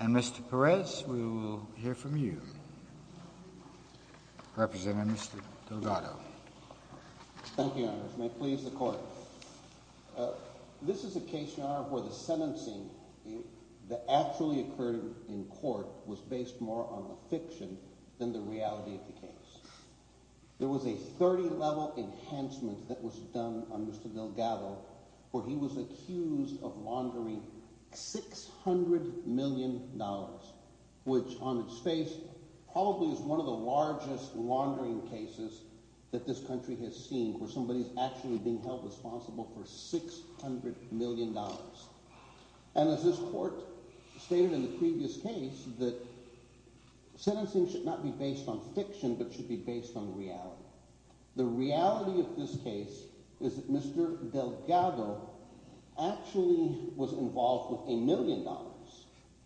And Mr. Perez, we will hear from you, representing Mr. Delgado. Thank you, Your Honor. May it please the Court. This is a case, Your Honor, where the sentencing that actually occurred in court was based more on a fiction than the reality of the case. There was a 30-level enhancement that was done on Mr. Delgado, where he was accused of laundering $600 million, which on its face probably is one of the largest laundering cases that this country has seen, where somebody's actually being held responsible for $600 million. And as this Court stated in the previous case, that sentencing should not be based on fiction but should be based on reality. The reality of this case is that Mr. Delgado actually was involved with $1 million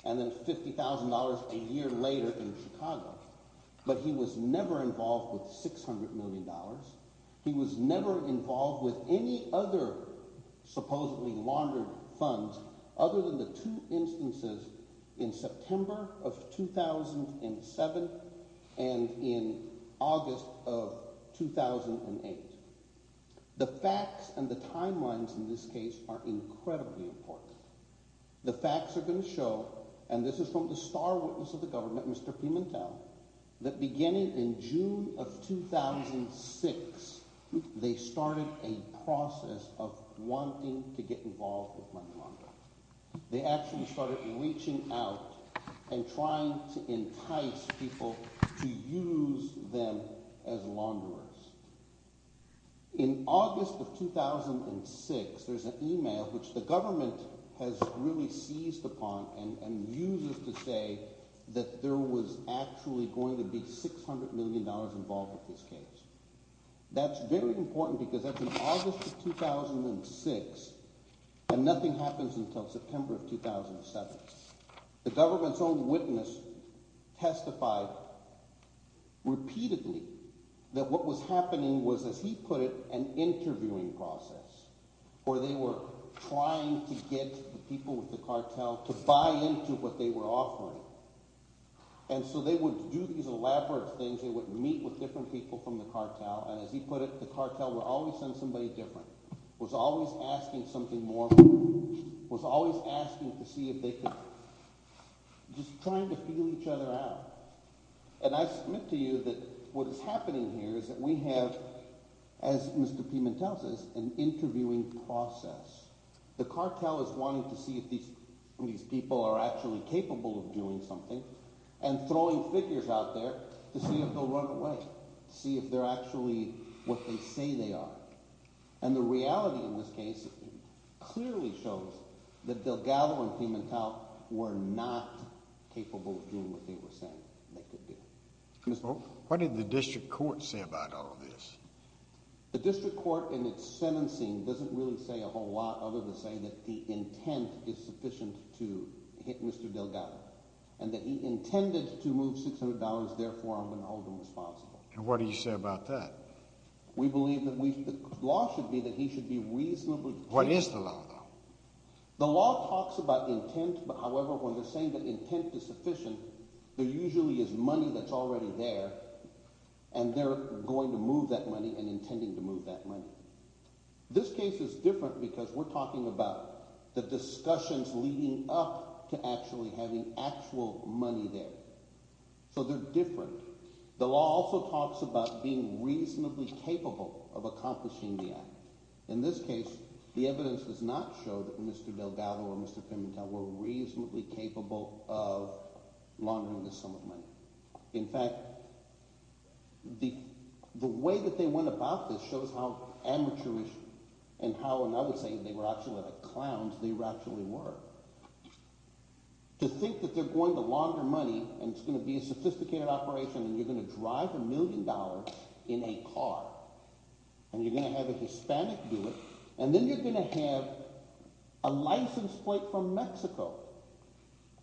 and then $50,000 a year later in Chicago, but he was never involved with $600 million. He was never involved with any other supposedly laundered funds other than the two instances in September of 2007 and in August of 2008. The facts and the timelines in this case are incredibly important. The facts are going to show, and this is from the star witness of the government, Mr. Pimentel, that beginning in June of 2006, they started a process of wanting to get involved with money laundering. They actually started reaching out and trying to entice people to use them as launderers. In August of 2006, there's an email which the government has really seized upon and uses to say that there was actually going to be $600 million involved with this case. That's very important because that's in August of 2006, and nothing happens until September of 2007. The government's own witness testified repeatedly that what was happening was, as he put it, an interviewing process where they were trying to get the people with the cartel to buy into what they were offering. And so they would do these elaborate things. They would meet with different people from the cartel, and as he put it, the cartel would always send somebody different, was always asking something more, was always asking to see if they could – just trying to feel each other out. And I submit to you that what is happening here is that we have, as Mr. Pimentel says, an interviewing process. The cartel is wanting to see if these people are actually capable of doing something and throwing figures out there to see if they'll run away, see if they're actually what they say they are. And the reality in this case clearly shows that Delgado and Pimentel were not capable of doing what they were saying they could do. What did the district court say about all of this? The district court in its sentencing doesn't really say a whole lot other than say that the intent is sufficient to hit Mr. Delgado and that he intended to move $600. Therefore, I'm going to hold him responsible. And what do you say about that? We believe that we – the law should be that he should be reasonably – What is the law, though? The law talks about intent, but however, when they're saying that intent is sufficient, there usually is money that's already there, and they're going to move that money and intending to move that money. This case is different because we're talking about the discussions leading up to actually having actual money there. So they're different. The law also talks about being reasonably capable of accomplishing the act. In this case, the evidence does not show that Mr. Delgado and Mr. Pimentel were reasonably capable of laundering the sum of money. In fact, the way that they went about this shows how amateurish and how, and I would say they were actually the clowns they actually were. To think that they're going to launder money, and it's going to be a sophisticated operation, and you're going to drive a million dollars in a car, and you're going to have a Hispanic do it, and then you're going to have a license plate from Mexico.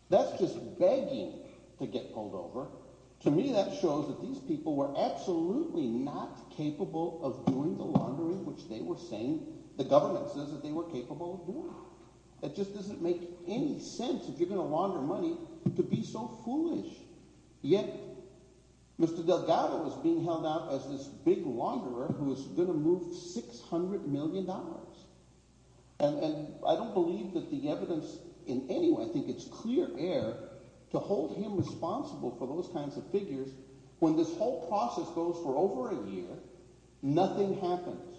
That's just begging to get pulled over. To me, that shows that these people were absolutely not capable of doing the laundering which they were saying the government says that they were capable of doing. It just doesn't make any sense, if you're going to launder money, to be so foolish, yet Mr. Delgado is being held out as this big launderer who is going to move $600 million. And I don't believe that the evidence in any way – I think it's clear air to hold him responsible for those kinds of figures when this whole process goes for over a year, nothing happens.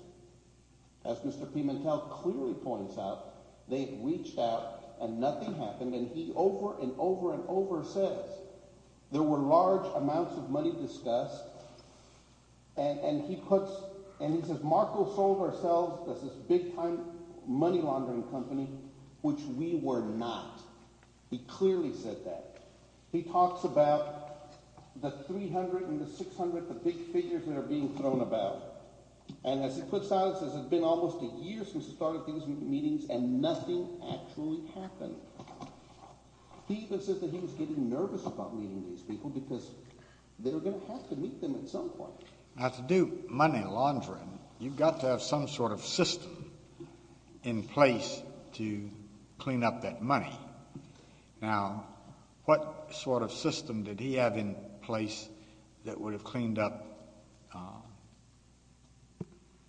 As Mr. Pimentel clearly points out, they reached out and nothing happened, and he over and over and over says there were large amounts of money discussed, and he puts – and he says, Marco sold ourselves as this big-time money laundering company, which we were not. He clearly said that. He talks about the 300 and the 600, the big figures that are being thrown about. And as he puts out, it's been almost a year since he started these meetings, and nothing actually happened. He even says that he was getting nervous about meeting these people because they were going to have to meet them at some point. Now, to do money laundering, you've got to have some sort of system in place to clean up that money. Now, what sort of system did he have in place that would have cleaned up,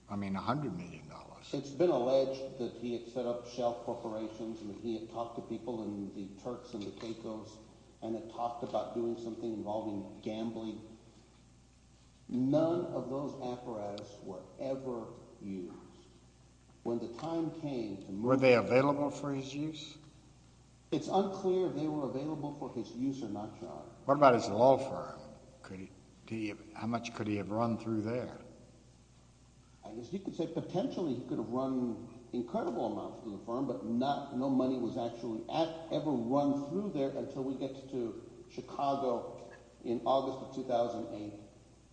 I mean, $100 million? It's been alleged that he had set up shell corporations and he had talked to people in the Turks and the Caicos and had talked about doing something involving gambling. None of those apparatus were ever used. When the time came to move – Were they available for his use? It's unclear if they were available for his use or not, John. What about his law firm? How much could he have run through there? I guess you could say potentially he could have run incredible amounts through the firm, but no money was actually ever run through there until we get to Chicago in August of 2008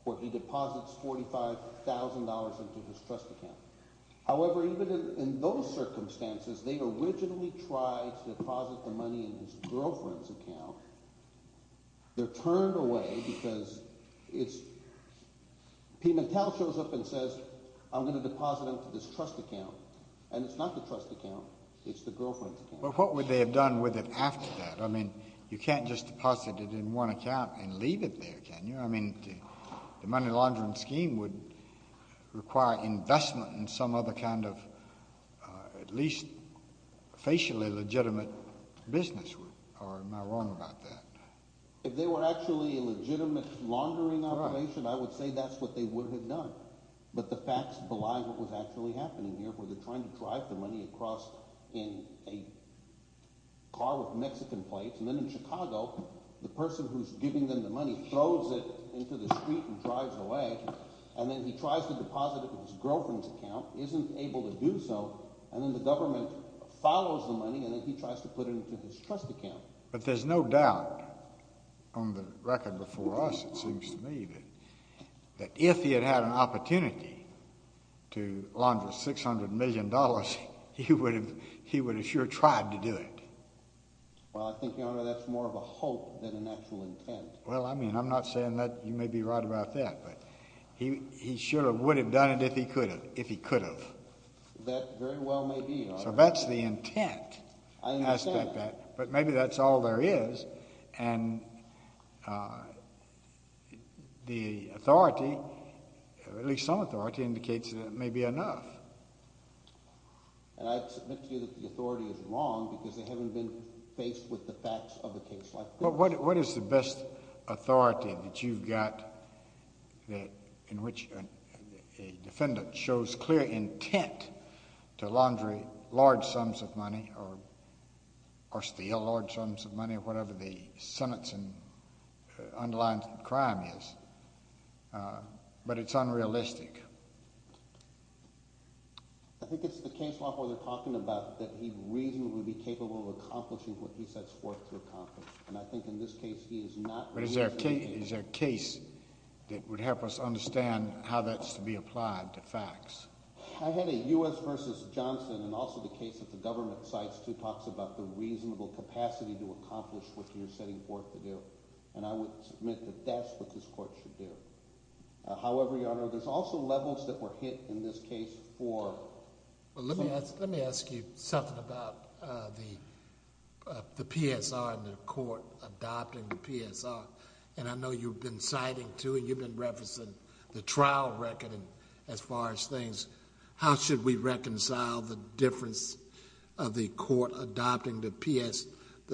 where he deposits $45,000 into his trust account. However, even in those circumstances, they originally tried to deposit the money in his girlfriend's account. They're turned away because it's – Pimentel shows up and says, I'm going to deposit it into this trust account, and it's not the trust account, it's the girlfriend's account. But what would they have done with it after that? I mean, you can't just deposit it in one account and leave it there, can you? I mean, the money laundering scheme would require investment in some other kind of at least facially legitimate business, or am I wrong about that? If they were actually a legitimate laundering operation, I would say that's what they would have done. But the facts belie what was actually happening here, where they're trying to drive the money across in a car with Mexican plates, and then in Chicago, the person who's giving them the money throws it into the street and drives away. And then he tries to deposit it in his girlfriend's account, isn't able to do so, and then the government follows the money, and then he tries to put it into his trust account. But there's no doubt on the record before us, it seems to me, that if he had had an opportunity to launder $600 million, he would have sure tried to do it. Well, I think, Your Honor, that's more of a hope than an actual intent. Well, I mean, I'm not saying that you may be right about that, but he sure would have done it if he could have. That very well may be, Your Honor. So that's the intent aspect of that. But maybe that's all there is, and the authority, at least some authority, indicates that it may be enough. And I'd submit to you that the authority is wrong because they haven't been faced with the facts of a case like this. What is the best authority that you've got in which a defendant shows clear intent to launder large sums of money or steal large sums of money, whatever the sentence and underlying crime is, but it's unrealistic? I think it's the case law where they're talking about that he reasonably would be capable of accomplishing what he sets forth to accomplish. And I think in this case he is not. But is there a case that would help us understand how that's to be applied to facts? I had a U.S. v. Johnson and also the case that the government cites, too, talks about the reasonable capacity to accomplish what you're setting forth to do. And I would submit that that's what this court should do. However, Your Honor, there's also levels that were hit in this case for- Let me ask you something about the PSR and the court adopting the PSR. And I know you've been citing, too, and you've been referencing the trial record as far as things. How should we reconcile the difference of the court adopting the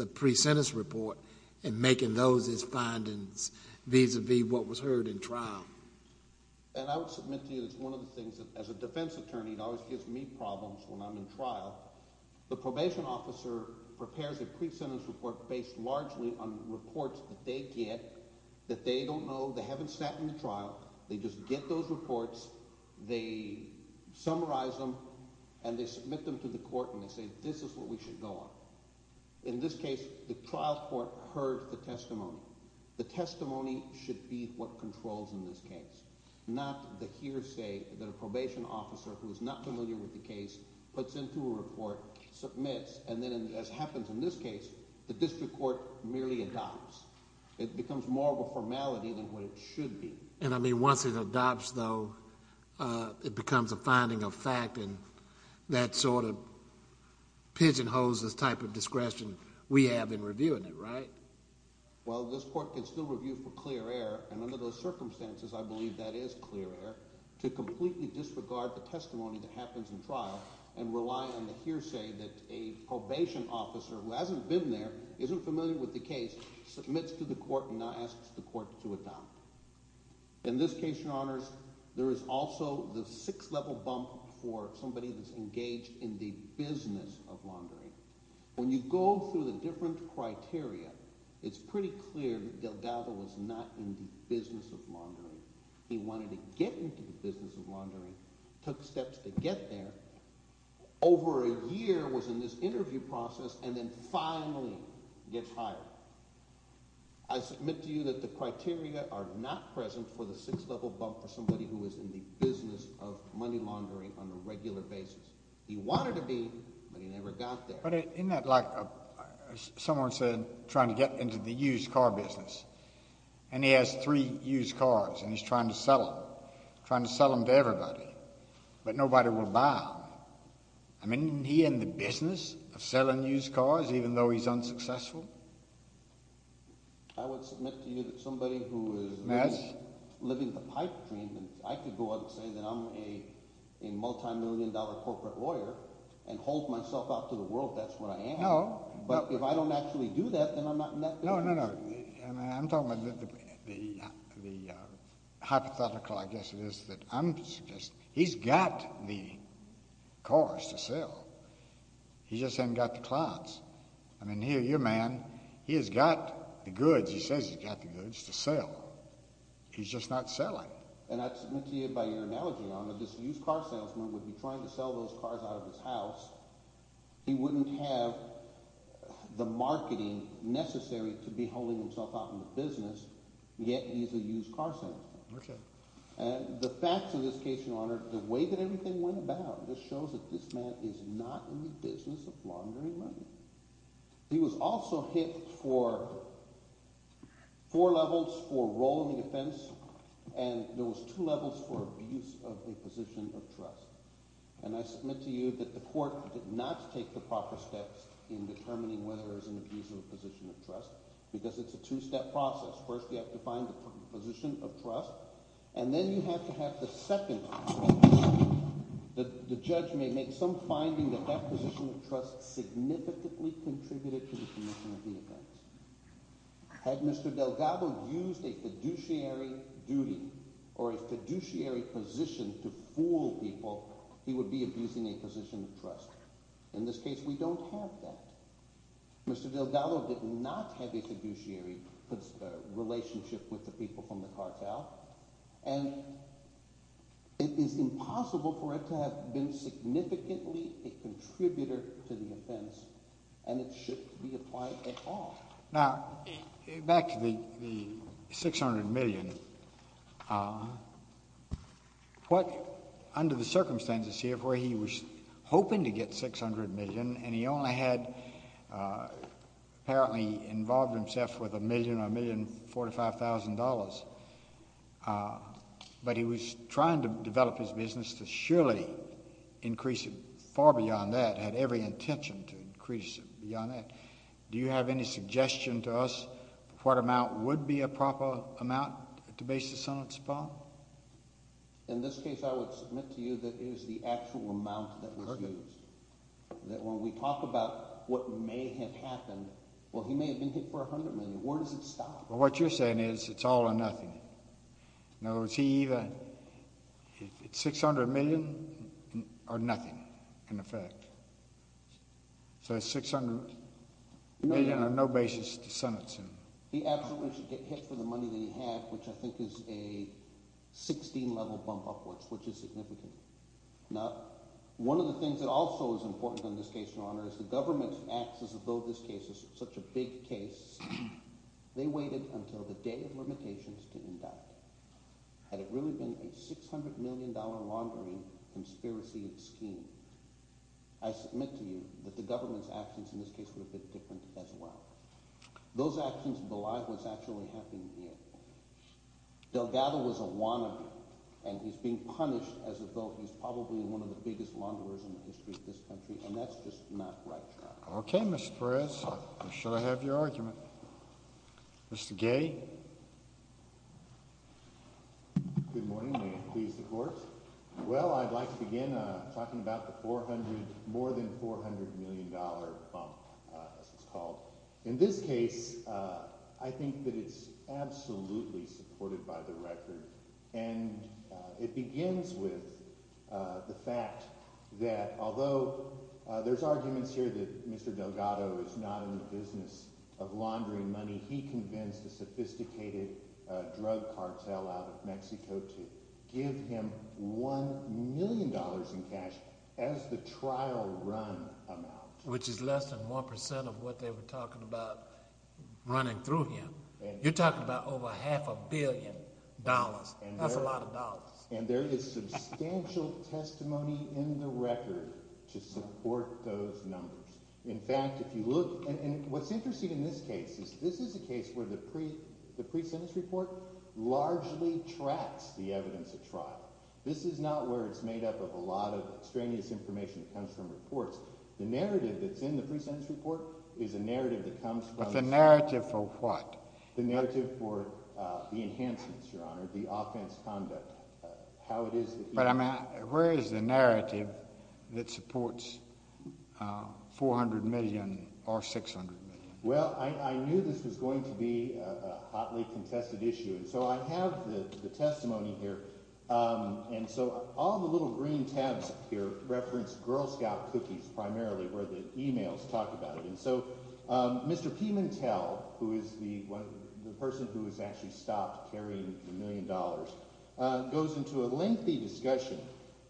pre-sentence report and making those its findings vis-à-vis what was heard in trial? And I would submit to you that it's one of the things that as a defense attorney it always gives me problems when I'm in trial. The probation officer prepares a pre-sentence report based largely on reports that they get that they don't know, they haven't sat in the trial. They just get those reports, they summarize them, and they submit them to the court and they say this is what we should go on. In this case, the trial court heard the testimony. The testimony should be what controls in this case, not the hearsay that a probation officer who is not familiar with the case puts into a report. Submits, and then as happens in this case, the district court merely adopts. It becomes more of a formality than what it should be. And I mean once it adopts, though, it becomes a finding of fact and that sort of pigeon-hoses type of discretion we have in reviewing it, right? Well, this court can still review for clear error, and under those circumstances I believe that is clear error, to completely disregard the testimony that happens in trial and rely on the hearsay that a probation officer who hasn't been there, isn't familiar with the case, submits to the court and asks the court to adopt. In this case, Your Honors, there is also the sixth level bump for somebody that's engaged in the business of laundering. When you go through the different criteria, it's pretty clear that Delgado is not in the business of laundering. He wanted to get into the business of laundering, took steps to get there, over a year was in this interview process, and then finally gets hired. I submit to you that the criteria are not present for the sixth level bump for somebody who is in the business of money laundering on a regular basis. He wanted to be, but he never got there. But isn't that like someone said trying to get into the used car business, and he has three used cars and he's trying to sell them, trying to sell them to everybody, but nobody will buy them. I mean, isn't he in the business of selling used cars even though he's unsuccessful? I would submit to you that somebody who is living the pipe dream, I could go out and say that I'm a multimillion dollar corporate lawyer and hold myself out to the world. That's what I am. But if I don't actually do that, then I'm not in that business. No, no, no. I'm talking about the hypothetical, I guess it is, that I'm suggesting. He's got the cars to sell. He just hasn't got the clients. I mean, here, your man, he has got the goods. He says he's got the goods to sell. He's just not selling. And I'd submit to you by your analogy, Your Honor, this used car salesman would be trying to sell those cars out of his house. He wouldn't have the marketing necessary to be holding himself out in the business, yet he's a used car salesman. Okay. And the facts of this case, Your Honor, the way that everything went about just shows that this man is not in the business of laundering money. He was also hit for four levels for role in the defense, and there was two levels for abuse of a position of trust. And I submit to you that the court did not take the proper steps in determining whether there's an abuse of a position of trust because it's a two-step process. First, you have to find the position of trust, and then you have to have the second step. The judge may make some finding that that position of trust significantly contributed to the commission of the offense. Had Mr. Delgado used a fiduciary duty or a fiduciary position to fool people, he would be abusing a position of trust. In this case, we don't have that. Mr. Delgado did not have a fiduciary relationship with the people from the cartel, and it is impossible for it to have been significantly a contributor to the offense, and it shouldn't be applied at all. Now, back to the $600 million. Under the circumstances here where he was hoping to get $600 million, and he only had apparently involved himself with $1,000,000 or $1,045,000, but he was trying to develop his business to surely increase it far beyond that, had every intention to increase it beyond that. Do you have any suggestion to us what amount would be a proper amount to base the sentence upon? In this case, I would submit to you that it is the actual amount that was used. That when we talk about what may have happened, well, he may have been hit for $100 million. Where does it stop? Well, what you're saying is it's all or nothing. In other words, he either hit $600 million or nothing, in effect. So $600 million on no basis to sentence him. He absolutely should get hit for the money that he had, which I think is a 16-level bump upwards, which is significant. Now, one of the things that also is important in this case, Your Honor, is the government acts as though this case is such a big case. They waited until the day of limitations to induct. Had it really been a $600 million laundering conspiracy scheme, I submit to you that the government's actions in this case would have been different as well. Those actions belie what's actually happening here. Delgado was a wannabe, and he's being punished as though he's probably one of the biggest launderers in the history of this country, and that's just not right, Your Honor. Okay, Mr. Perez. Should I have your argument? Mr. Gay? Good morning. May it please the Court? Well, I'd like to begin talking about the more than $400 million bump, as it's called. In this case, I think that it's absolutely supported by the record, and it begins with the fact that although there's arguments here that Mr. Delgado is not in the business of laundering money, he convinced a sophisticated drug cartel out of Mexico to give him $1 million in cash as the trial run amount. Which is less than 1% of what they were talking about running through him. You're talking about over half a billion dollars. That's a lot of dollars. And there is substantial testimony in the record to support those numbers. In fact, if you look—and what's interesting in this case is this is a case where the pre-sentence report largely tracks the evidence of trial. This is not where it's made up of a lot of extraneous information that comes from reports. The narrative that's in the pre-sentence report is a narrative that comes from— But the narrative for what? The narrative for the enhancements, Your Honor, the offense conduct, how it is— But where is the narrative that supports $400 million or $600 million? Well, I knew this was going to be a hotly contested issue, and so I have the testimony here. And so all the little green tabs here reference Girl Scout cookies primarily where the emails talk about it. So Mr. Pimentel, who is the person who has actually stopped carrying the million dollars, goes into a lengthy discussion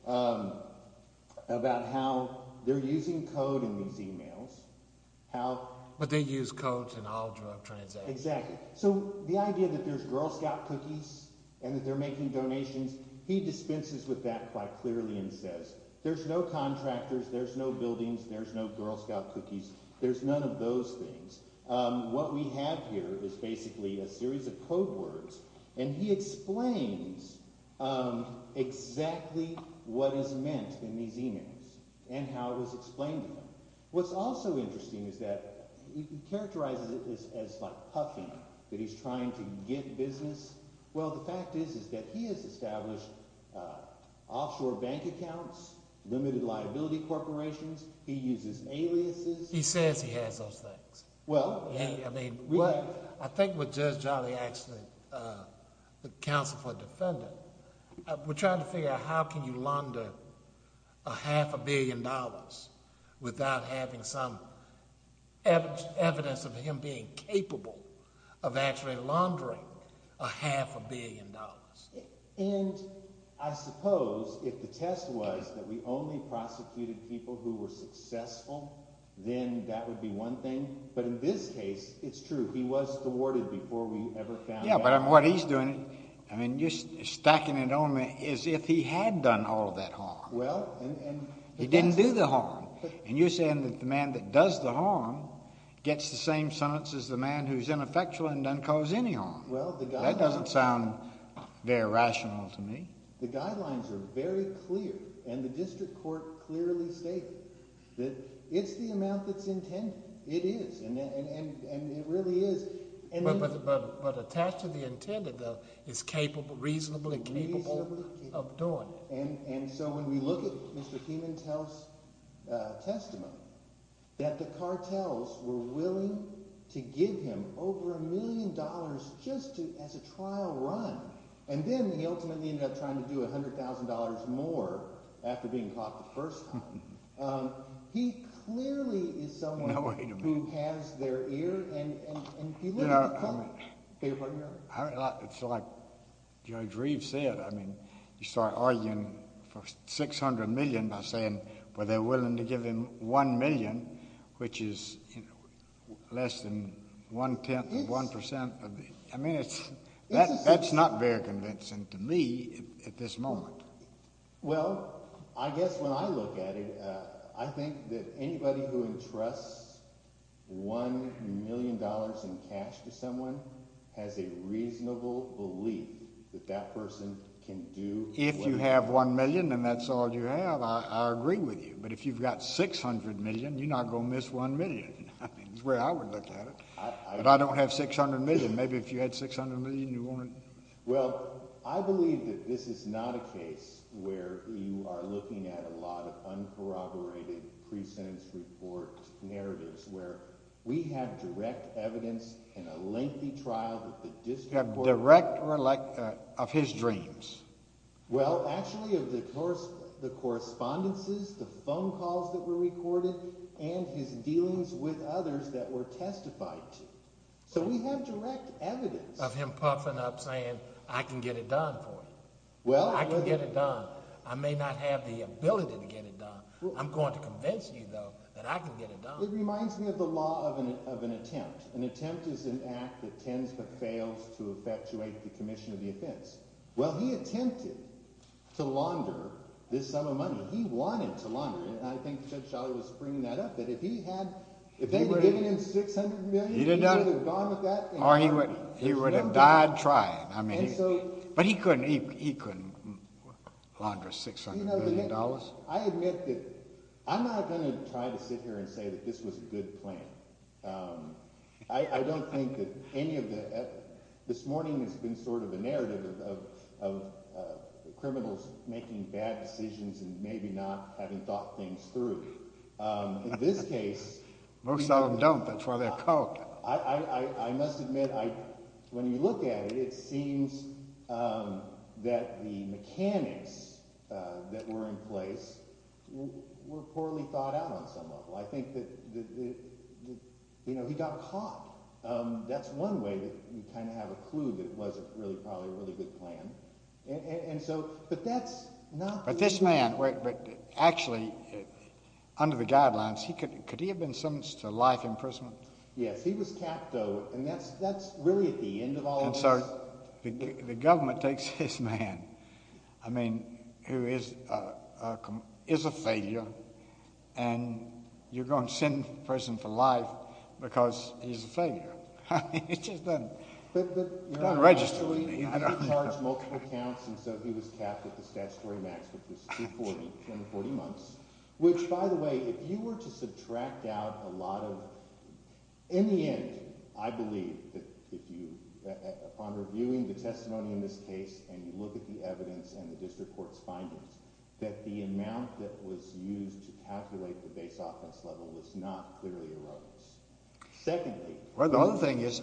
about how they're using code in these emails, how— But they use code in all drug transactions. Exactly. So the idea that there's Girl Scout cookies and that they're making donations, he dispenses with that quite clearly and says there's no contractors, there's no buildings, there's no Girl Scout cookies. There's none of those things. What we have here is basically a series of code words, and he explains exactly what is meant in these emails and how it is explained to them. What's also interesting is that he characterizes it as like puffing, that he's trying to get business. Well, the fact is that he has established offshore bank accounts, limited liability corporations. He uses aliases. He says he has those things. I think with Judge Jolly actually, the counsel for the defendant, we're trying to figure out how can you launder a half a billion dollars without having some evidence of him being capable of actually laundering a half a billion dollars. And I suppose if the test was that we only prosecuted people who were successful, then that would be one thing. But in this case, it's true. He was thwarted before we ever found out. Yeah, but what he's doing—I mean, you're stacking it on me as if he had done all that harm. He didn't do the harm. And you're saying that the man that does the harm gets the same sentence as the man who's ineffectual and doesn't cause any harm. That doesn't sound very rational to me. The guidelines are very clear, and the district court clearly stated that it's the amount that's intended. It is, and it really is. But attached to the intended, though, is reasonably capable of doing it. And so when we look at Mr. Keenan's testimony, that the cartels were willing to give him over a million dollars just to—as a trial run, and then he ultimately ended up trying to do $100,000 more after being caught the first time. He clearly is someone who has their ear, and he literally— I mean, it's like Judge Reeves said. I mean, you start arguing for $600 million by saying, well, they're willing to give him $1 million, which is less than one-tenth of 1% of the—I mean, that's not very convincing to me at this moment. Well, I guess when I look at it, I think that anybody who entrusts $1 million in cash to someone has a reasonable belief that that person can do— If you have $1 million and that's all you have, I agree with you. But if you've got $600 million, you're not going to miss $1 million. I mean, that's the way I would look at it. But I don't have $600 million. Maybe if you had $600 million, you wouldn't— Well, I believe that this is not a case where you are looking at a lot of uncorroborated pre-sentence report narratives, where we have direct evidence in a lengthy trial that the district court— Direct of his dreams. Well, actually of the correspondences, the phone calls that were recorded, and his dealings with others that were testified to. So we have direct evidence— I can get it done for you. I can get it done. I may not have the ability to get it done. I'm going to convince you, though, that I can get it done. It reminds me of the law of an attempt. An attempt is an act that tends but fails to effectuate the commission of the offense. Well, he attempted to launder this sum of money. He wanted to launder it, and I think Judge Schleyer was bringing that up, that if he had— If they had given him $600 million, he would have gone with that— Or he would have died trying. But he couldn't launder $600 million. I admit that I'm not going to try to sit here and say that this was a good plan. I don't think that any of the—this morning has been sort of a narrative of criminals making bad decisions and maybe not having thought things through. In this case— Most of them don't. That's why they're caught. I must admit, when you look at it, it seems that the mechanics that were in place were poorly thought out on some level. I think that, you know, he got caught. That's one way that you kind of have a clue that it wasn't really probably a really good plan. And so—but that's not— But this man, actually, under the guidelines, could he have been sentenced to life imprisonment? Yes. He was capped, though, and that's really at the end of all of this. And so the government takes this man, I mean, who is a failure, and you're going to send him to prison for life because he's a failure. I mean, it just doesn't register with me. He was charged multiple counts, and so he was capped at the statutory maximum, which is 240 months, which, by the way, if you were to subtract out a lot of—in the end, I believe that if you—upon reviewing the testimony in this case and you look at the evidence and the district court's findings, that the amount that was used to calculate the base offense level was not clearly erroneous. Secondly— Well, the other thing is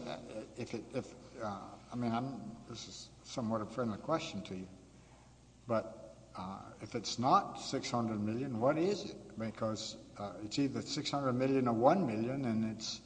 if—I mean, this is somewhat a friendly question to you, but if it's not $600 million, what is it? Because it's either $600 million or $1 million, and it's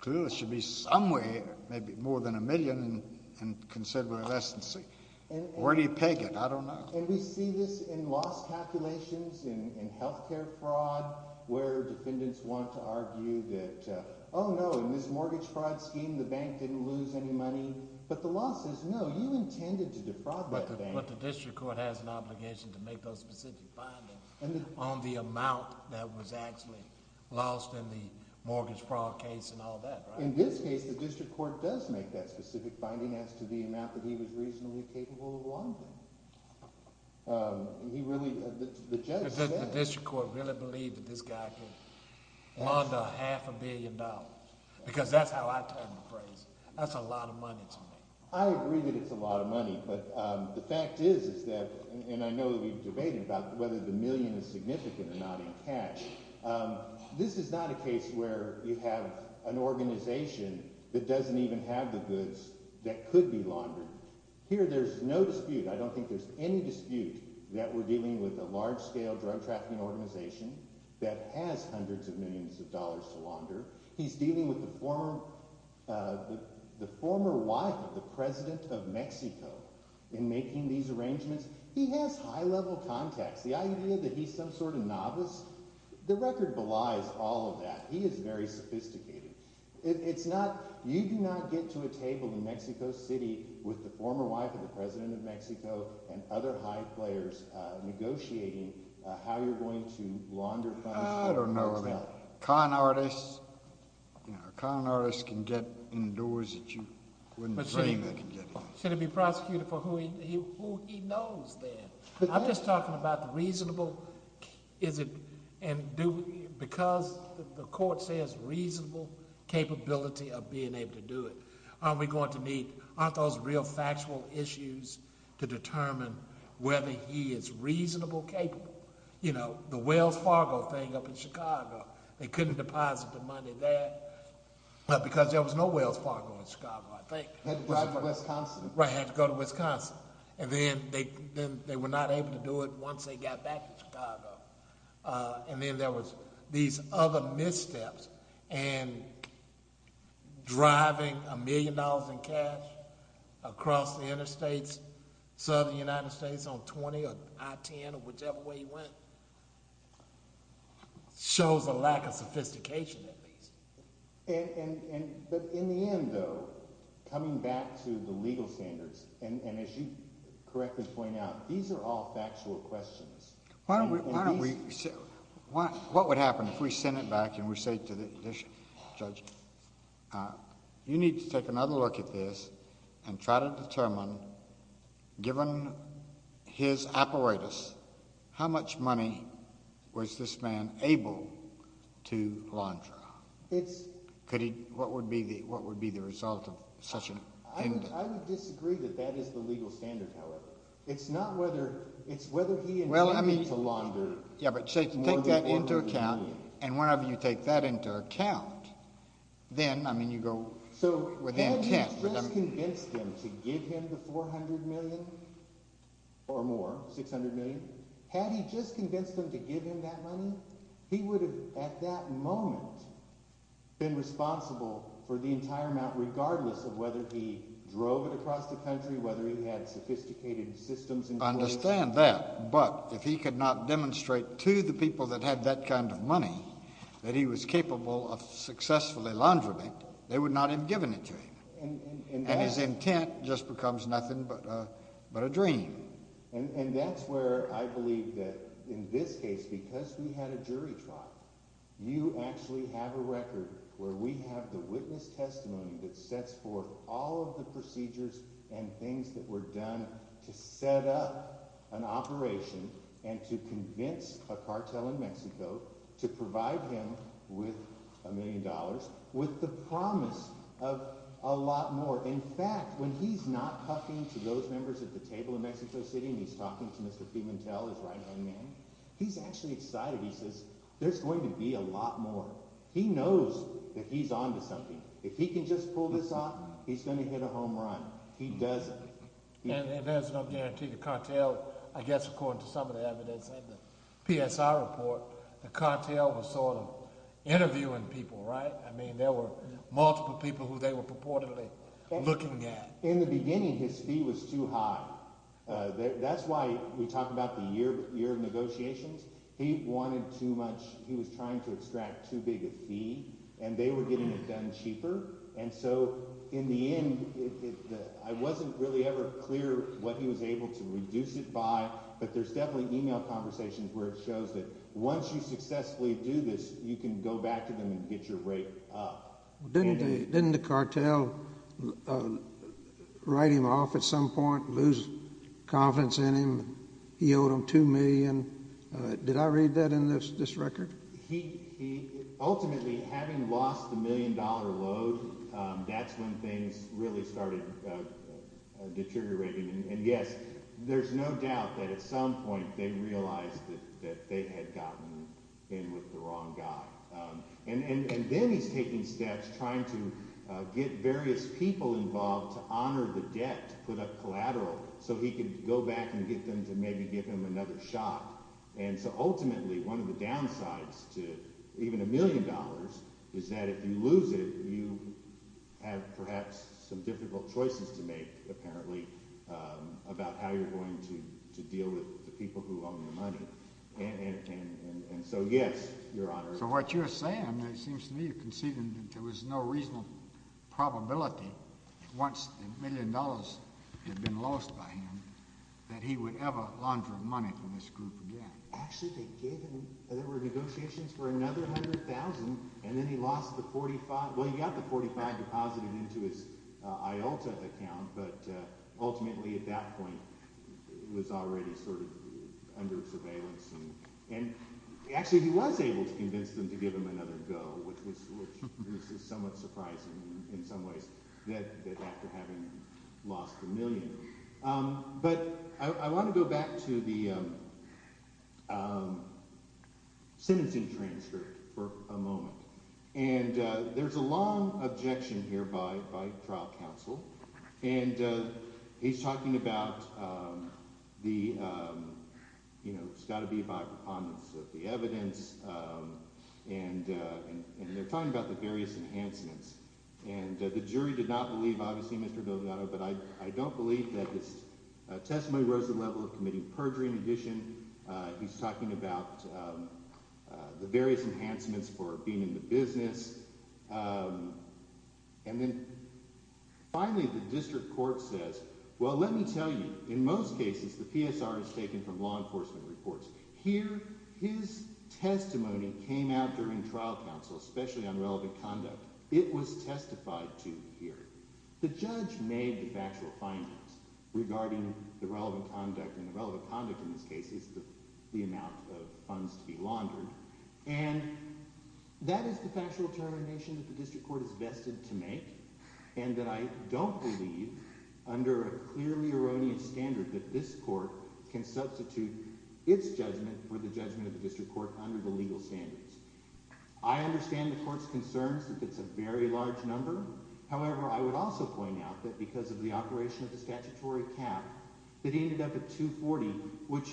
clear there should be some way maybe more than $1 million and considerably less than $600 million. Where do you peg it? I don't know. And we see this in loss calculations, in health care fraud, where defendants want to argue that, oh, no, in this mortgage fraud scheme, the bank didn't lose any money, but the law says, no, you intended to defraud that bank. But the district court has an obligation to make those specific findings on the amount that was actually lost in the mortgage fraud case and all that, right? In this case, the district court does make that specific finding as to the amount that he was reasonably capable of losing. He really—the judge said— The district court really believed that this guy could launder half a billion dollars, because that's how I term the phrase. That's a lot of money to me. I agree that it's a lot of money, but the fact is that—and I know that we've debated about whether the million is significant or not in cash. This is not a case where you have an organization that doesn't even have the goods that could be laundered. Here there's no dispute. I don't think there's any dispute that we're dealing with a large-scale drug trafficking organization that has hundreds of millions of dollars to launder. He's dealing with the former wife of the president of Mexico in making these arrangements. He has high-level contacts. The idea that he's some sort of novice, the record belies all of that. He is very sophisticated. It's not—you do not get to a table in Mexico City with the former wife of the president of Mexico and other high players negotiating how you're going to launder funds. I don't know about that. Con artists can get in doors that you wouldn't dream they can get in. Should he be prosecuted for who he knows then? I'm just talking about the reasonable—because the court says reasonable capability of being able to do it. Aren't we going to need—aren't those real factual issues to determine whether he is reasonable capable? The Wells Fargo thing up in Chicago, they couldn't deposit the money there because there was no Wells Fargo in Chicago, I think. Had to drive to Wisconsin. Right, had to go to Wisconsin. Then they were not able to do it once they got back to Chicago. Then there was these other missteps, and driving a million dollars in cash across the interstates, southern United States on 20 or I-10 or whichever way you went, shows a lack of sophistication at least. But in the end, though, coming back to the legal standards, and as you correctly point out, these are all factual questions. Why don't we—what would happen if we sent it back and we say to the judge, you need to take another look at this and try to determine, given his apparatus, how much money was this man able to launder? Could he—what would be the result of such an— I would disagree that that is the legal standard, however. It's not whether—it's whether he intended to launder more than $400 million. Yeah, but take that into account, and whenever you take that into account, then, I mean, you go— So had he just convinced him to give him the $400 million or more, $600 million, had he just convinced him to give him that money, he would have, at that moment, been responsible for the entire amount, regardless of whether he drove it across the country, whether he had sophisticated systems in place. I understand that, but if he could not demonstrate to the people that had that kind of money that he was capable of successfully laundering, they would not have given it to him. And that— And his intent just becomes nothing but a dream. And that's where I believe that, in this case, because we had a jury trial, you actually have a record where we have the witness testimony that sets forth all of the procedures and things that were done to set up an operation and to convince a cartel in Mexico to provide him with a million dollars with the promise of a lot more. In fact, when he's not talking to those members at the table in Mexico City and he's talking to Mr. Pimentel, his right-hand man, he's actually excited. He says, there's going to be a lot more. He knows that he's on to something. If he can just pull this off, he's going to hit a home run. He does it. And there's no guarantee the cartel—I guess according to some of the evidence in the PSI report, the cartel was sort of interviewing people, right? I mean, there were multiple people who they were purportedly interviewing. In the beginning, his fee was too high. That's why we talk about the year of negotiations. He wanted too much. He was trying to extract too big a fee, and they were getting it done cheaper. And so in the end, I wasn't really ever clear what he was able to reduce it by, but there's definitely email conversations where it shows that once you successfully do this, you can go back to them and get your rate up. Didn't the cartel write him off at some point, lose confidence in him? He owed them $2 million. Did I read that in this record? Ultimately, having lost the million-dollar load, that's when things really started deteriorating. And yes, there's no doubt that at some point they realized that they had gotten in with the wrong guy. And then he's taking steps, trying to get various people involved to honor the debt, to put up collateral, so he could go back and get them to maybe give him another shot. And so ultimately, one of the downsides to even a million dollars is that if you lose it, you have perhaps some difficult choices to make, apparently, about how you're going to deal with the people who own the money. And so yes, Your Honor. So what you're saying, it seems to me you're conceding that there was no reasonable probability, once the million dollars had been lost by him, that he would ever launder money from this group again. Actually, they gave him – there were negotiations for another $100,000, and then he lost the 45 – well, he got the 45 deposited into his IOLTA account, but ultimately at that point, it was already sort of under surveillance. And actually he was able to convince them to give him another go, which is somewhat surprising in some ways, that after having lost the million. But I want to go back to the sentencing transcript for a moment. And there's a long objection here by trial counsel, and he's talking about the – it's got to be by preponderance of the evidence, and they're talking about the various enhancements. And the jury did not believe, obviously, Mr. Delgado, but I don't believe that his testimony rose the level of committing perjury. In addition, he's talking about the various enhancements for being in the business. And then finally, the district court says, well, let me tell you, in most cases, the PSR is taken from law enforcement reports. Here, his testimony came out during trial counsel, especially on relevant conduct. It was testified to here. The judge made the factual findings regarding the relevant conduct, and the relevant conduct in this case is the amount of funds to be laundered. And that is the factual determination that the district court is vested to make and that I don't believe under a clearly erroneous standard that this court can substitute its judgment for the judgment of the district court under the legal standards. I understand the court's concerns that it's a very large number. However, I would also point out that because of the operation of the statutory cap, that he ended up at $240,000, which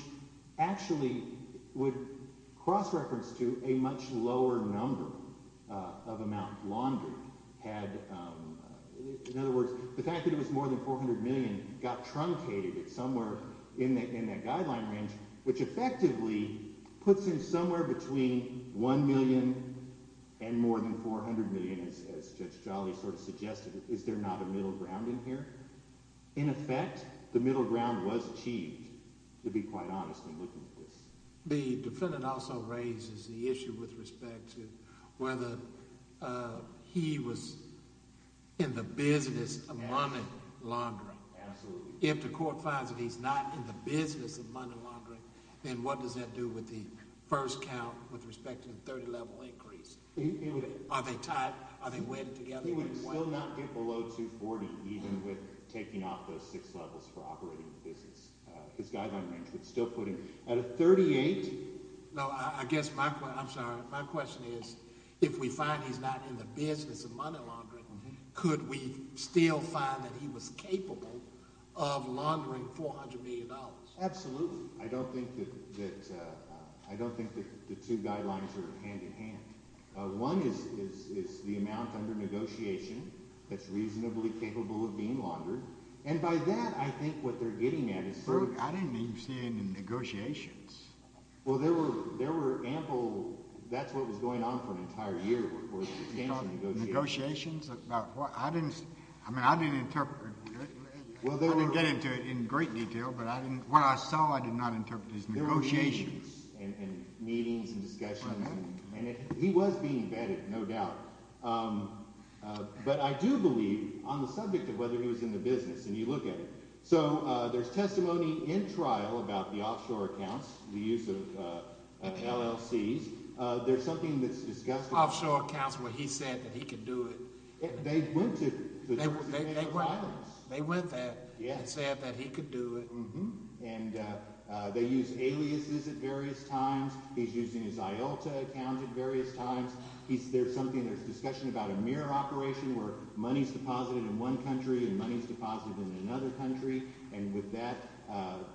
actually would cross-reference to a much lower number of amount laundered. In other words, the fact that it was more than $400 million got truncated somewhere in that guideline range, which effectively puts him somewhere between $1 million and more than $400 million, as Judge Jolly sort of suggested. Is there not a middle ground in here? In effect, the middle ground was achieved, to be quite honest in looking at this. The defendant also raises the issue with respect to whether he was in the business of money laundering. Absolutely. If the court finds that he's not in the business of money laundering, then what does that do with the first count with respect to the 30-level increase? Are they tied? Are they wedded together? He would still not get below $240,000 even with taking off those six levels for operating the business. His guideline range would still put him at a 38. No, I guess my question – I'm sorry. My question is if we find he's not in the business of money laundering, could we still find that he was capable of laundering $400 million? Absolutely. I don't think that the two guidelines are hand-in-hand. One is the amount under negotiation that's reasonably capable of being laundered. And by that, I think what they're getting at is – I didn't even see any negotiations. Well, there were ample – that's what was going on for an entire year, of course, was extensive negotiations. Negotiations about what? I didn't – I mean I didn't interpret – well, they didn't get into it in great detail, but I didn't – what I saw I did not interpret as negotiations. And meetings and discussions, and he was being vetted, no doubt. But I do believe on the subject of whether he was in the business, and you look at it. So there's testimony in trial about the offshore accounts, the use of LLCs. There's something that's discussed about – Offshore accounts where he said that he could do it. They went to – They went there and said that he could do it. And they used aliases at various times. He's using his IULTA account at various times. There's something – there's discussion about a mirror operation where money is deposited in one country and money is deposited in another country. And with that,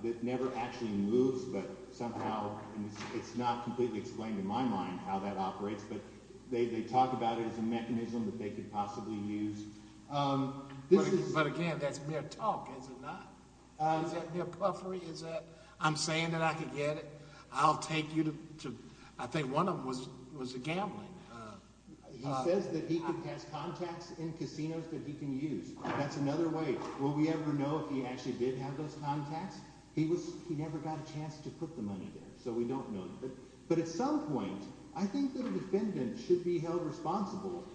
it never actually moves, but somehow – and it's not completely explained in my mind how that operates. But they talk about it as a mechanism that they could possibly use. But again, that's mere talk, is it not? Is that mere puffery? Is that I'm saying that I could get it. I'll take you to – I think one of them was gambling. He says that he has contacts in casinos that he can use. That's another way. Will we ever know if he actually did have those contacts? He never got a chance to put the money there, so we don't know. But at some point, I think that a defendant should be held responsible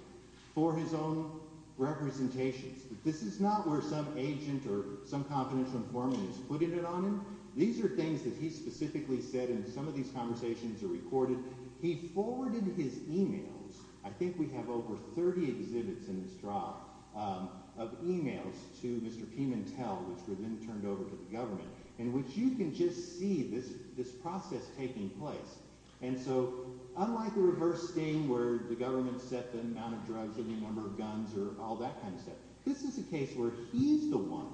for his own representations. This is not where some agent or some confidential informant is putting it on him. These are things that he specifically said, and some of these conversations are recorded. He forwarded his emails. I think we have over 30 exhibits in this job of emails to Mr. Pimentel, which were then turned over to the government, in which you can just see this process taking place. And so unlike the reverse sting where the government set the amount of drugs and the number of guns or all that kind of stuff, this is a case where he's the one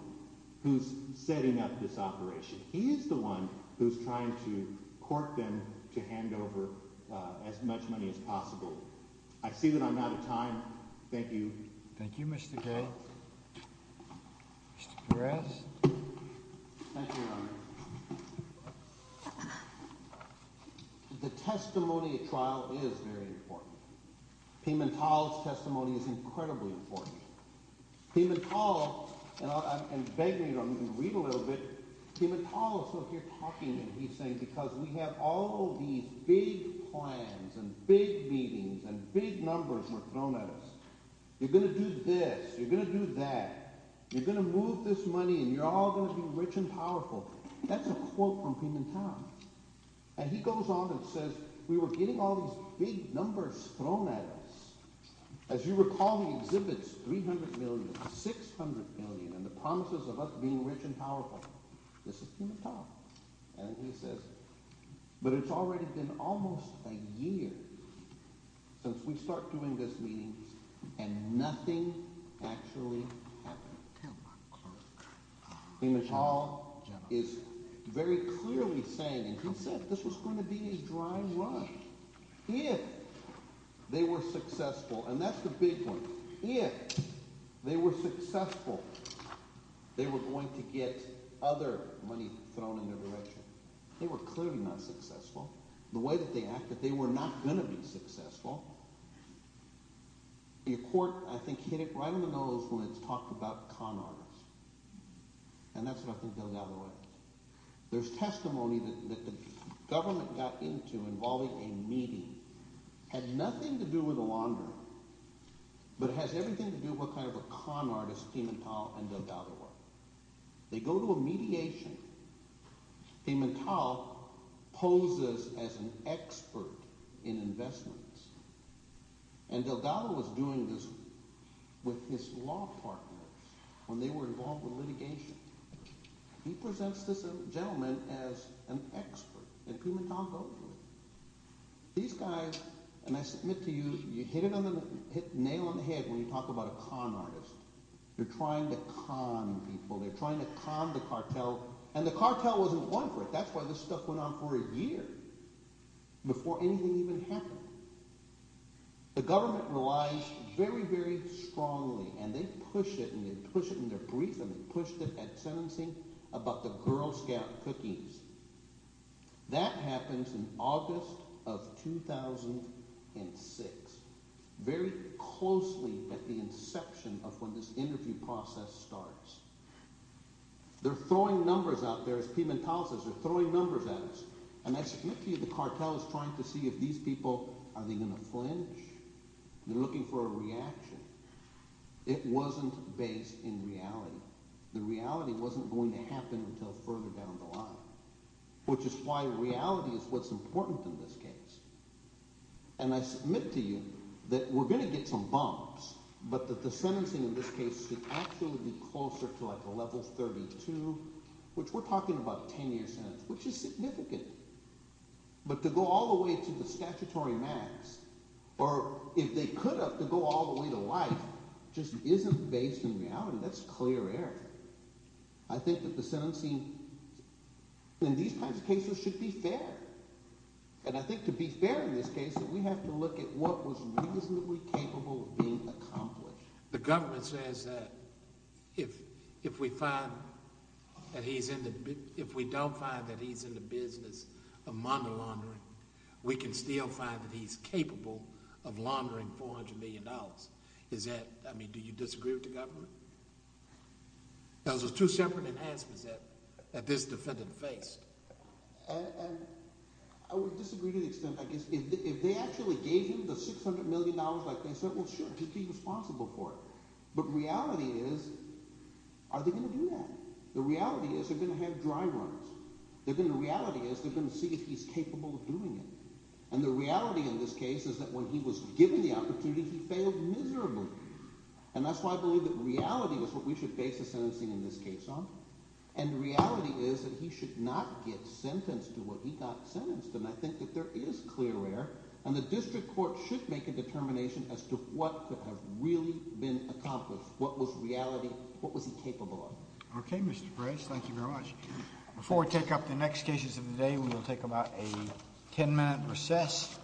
who's setting up this operation. He is the one who's trying to court them to hand over as much money as possible. I see that I'm out of time. Thank you. Thank you, Mr. Gay. Mr. Perez. Thank you, Your Honor. The testimony at trial is very important. Pimentel's testimony is incredibly important. Pimentel, and I'm begging you, I'm going to read a little bit. Pimentel is still here talking, and he's saying, because we have all these big plans and big meetings and big numbers were thrown at us. You're going to do this. You're going to do that. You're going to move this money, and you're all going to be rich and powerful. That's a quote from Pimentel. And he goes on and says, we were getting all these big numbers thrown at us. As you recall, he exhibits $300 million, $600 million, and the promises of us being rich and powerful. This is Pimentel. And he says, but it's already been almost a year since we've started doing these meetings, and nothing actually happened. Pimentel is very clearly saying, and he said this was going to be his dry run. If they were successful, and that's the big one, if they were successful, they were going to get other money thrown in their direction. They were clearly not successful. The way that they acted, they were not going to be successful. The court, I think, hit it right on the nose when it talked about con artists, and that's what I think they'll gather on. There's testimony that the government got into involving a meeting. It had nothing to do with a laundromat, but it has everything to do with what kind of a con artist Pimentel and Delgado are. They go to a mediation. Pimentel poses as an expert in investments, and Delgado was doing this with his law partners when they were involved with litigation. He presents this gentleman as an expert, and Pimentel goes with it. These guys, and I submit to you, you hit it on the – nail on the head when you talk about a con artist. They're trying to con people. They're trying to con the cartel, and the cartel wasn't going for it. That's why this stuff went on for a year before anything even happened. The government relies very, very strongly, and they push it, and they push it in their brief, and they pushed it at sentencing about the Girl Scout cookies. That happens in August of 2006, very closely at the inception of when this interview process starts. They're throwing numbers out there, as Pimentel says. They're throwing numbers at us, and I submit to you the cartel is trying to see if these people – are they going to flinch? They're looking for a reaction. It wasn't based in reality. The reality wasn't going to happen until further down the line, which is why reality is what's important in this case. And I submit to you that we're going to get some bumps, but that the sentencing in this case should actually be closer to like a level 32, which we're talking about a ten-year sentence, which is significant. But to go all the way to the statutory max, or if they could have, to go all the way to life, just isn't based in reality. That's clear error. I think that the sentencing in these kinds of cases should be fair, and I think to be fair in this case that we have to look at what was reasonably capable of being accomplished. The government says that if we find that he's in the – if we don't find that he's in the business of monda laundering, we can still find that he's capable of laundering $400 million. Is that – I mean, do you disagree with the government? Those are two separate enhancements that this defendant faced. And I would disagree to the extent, I guess, if they actually gave him the $600 million like they said, well, sure, he'd be responsible for it. But reality is, are they going to do that? The reality is they're going to have dry runs. The reality is they're going to see if he's capable of doing it, and the reality in this case is that when he was given the opportunity, he failed miserably. And that's why I believe that reality is what we should base the sentencing in this case on. And the reality is that he should not get sentenced to what he got sentenced, and I think that there is clear error, and the district court should make a determination as to what could have really been accomplished, what was reality – what was he capable of. Okay, Mr. Price. Thank you very much. Before we take up the next cases of the day, we will take about a ten-minute recess. Thank you.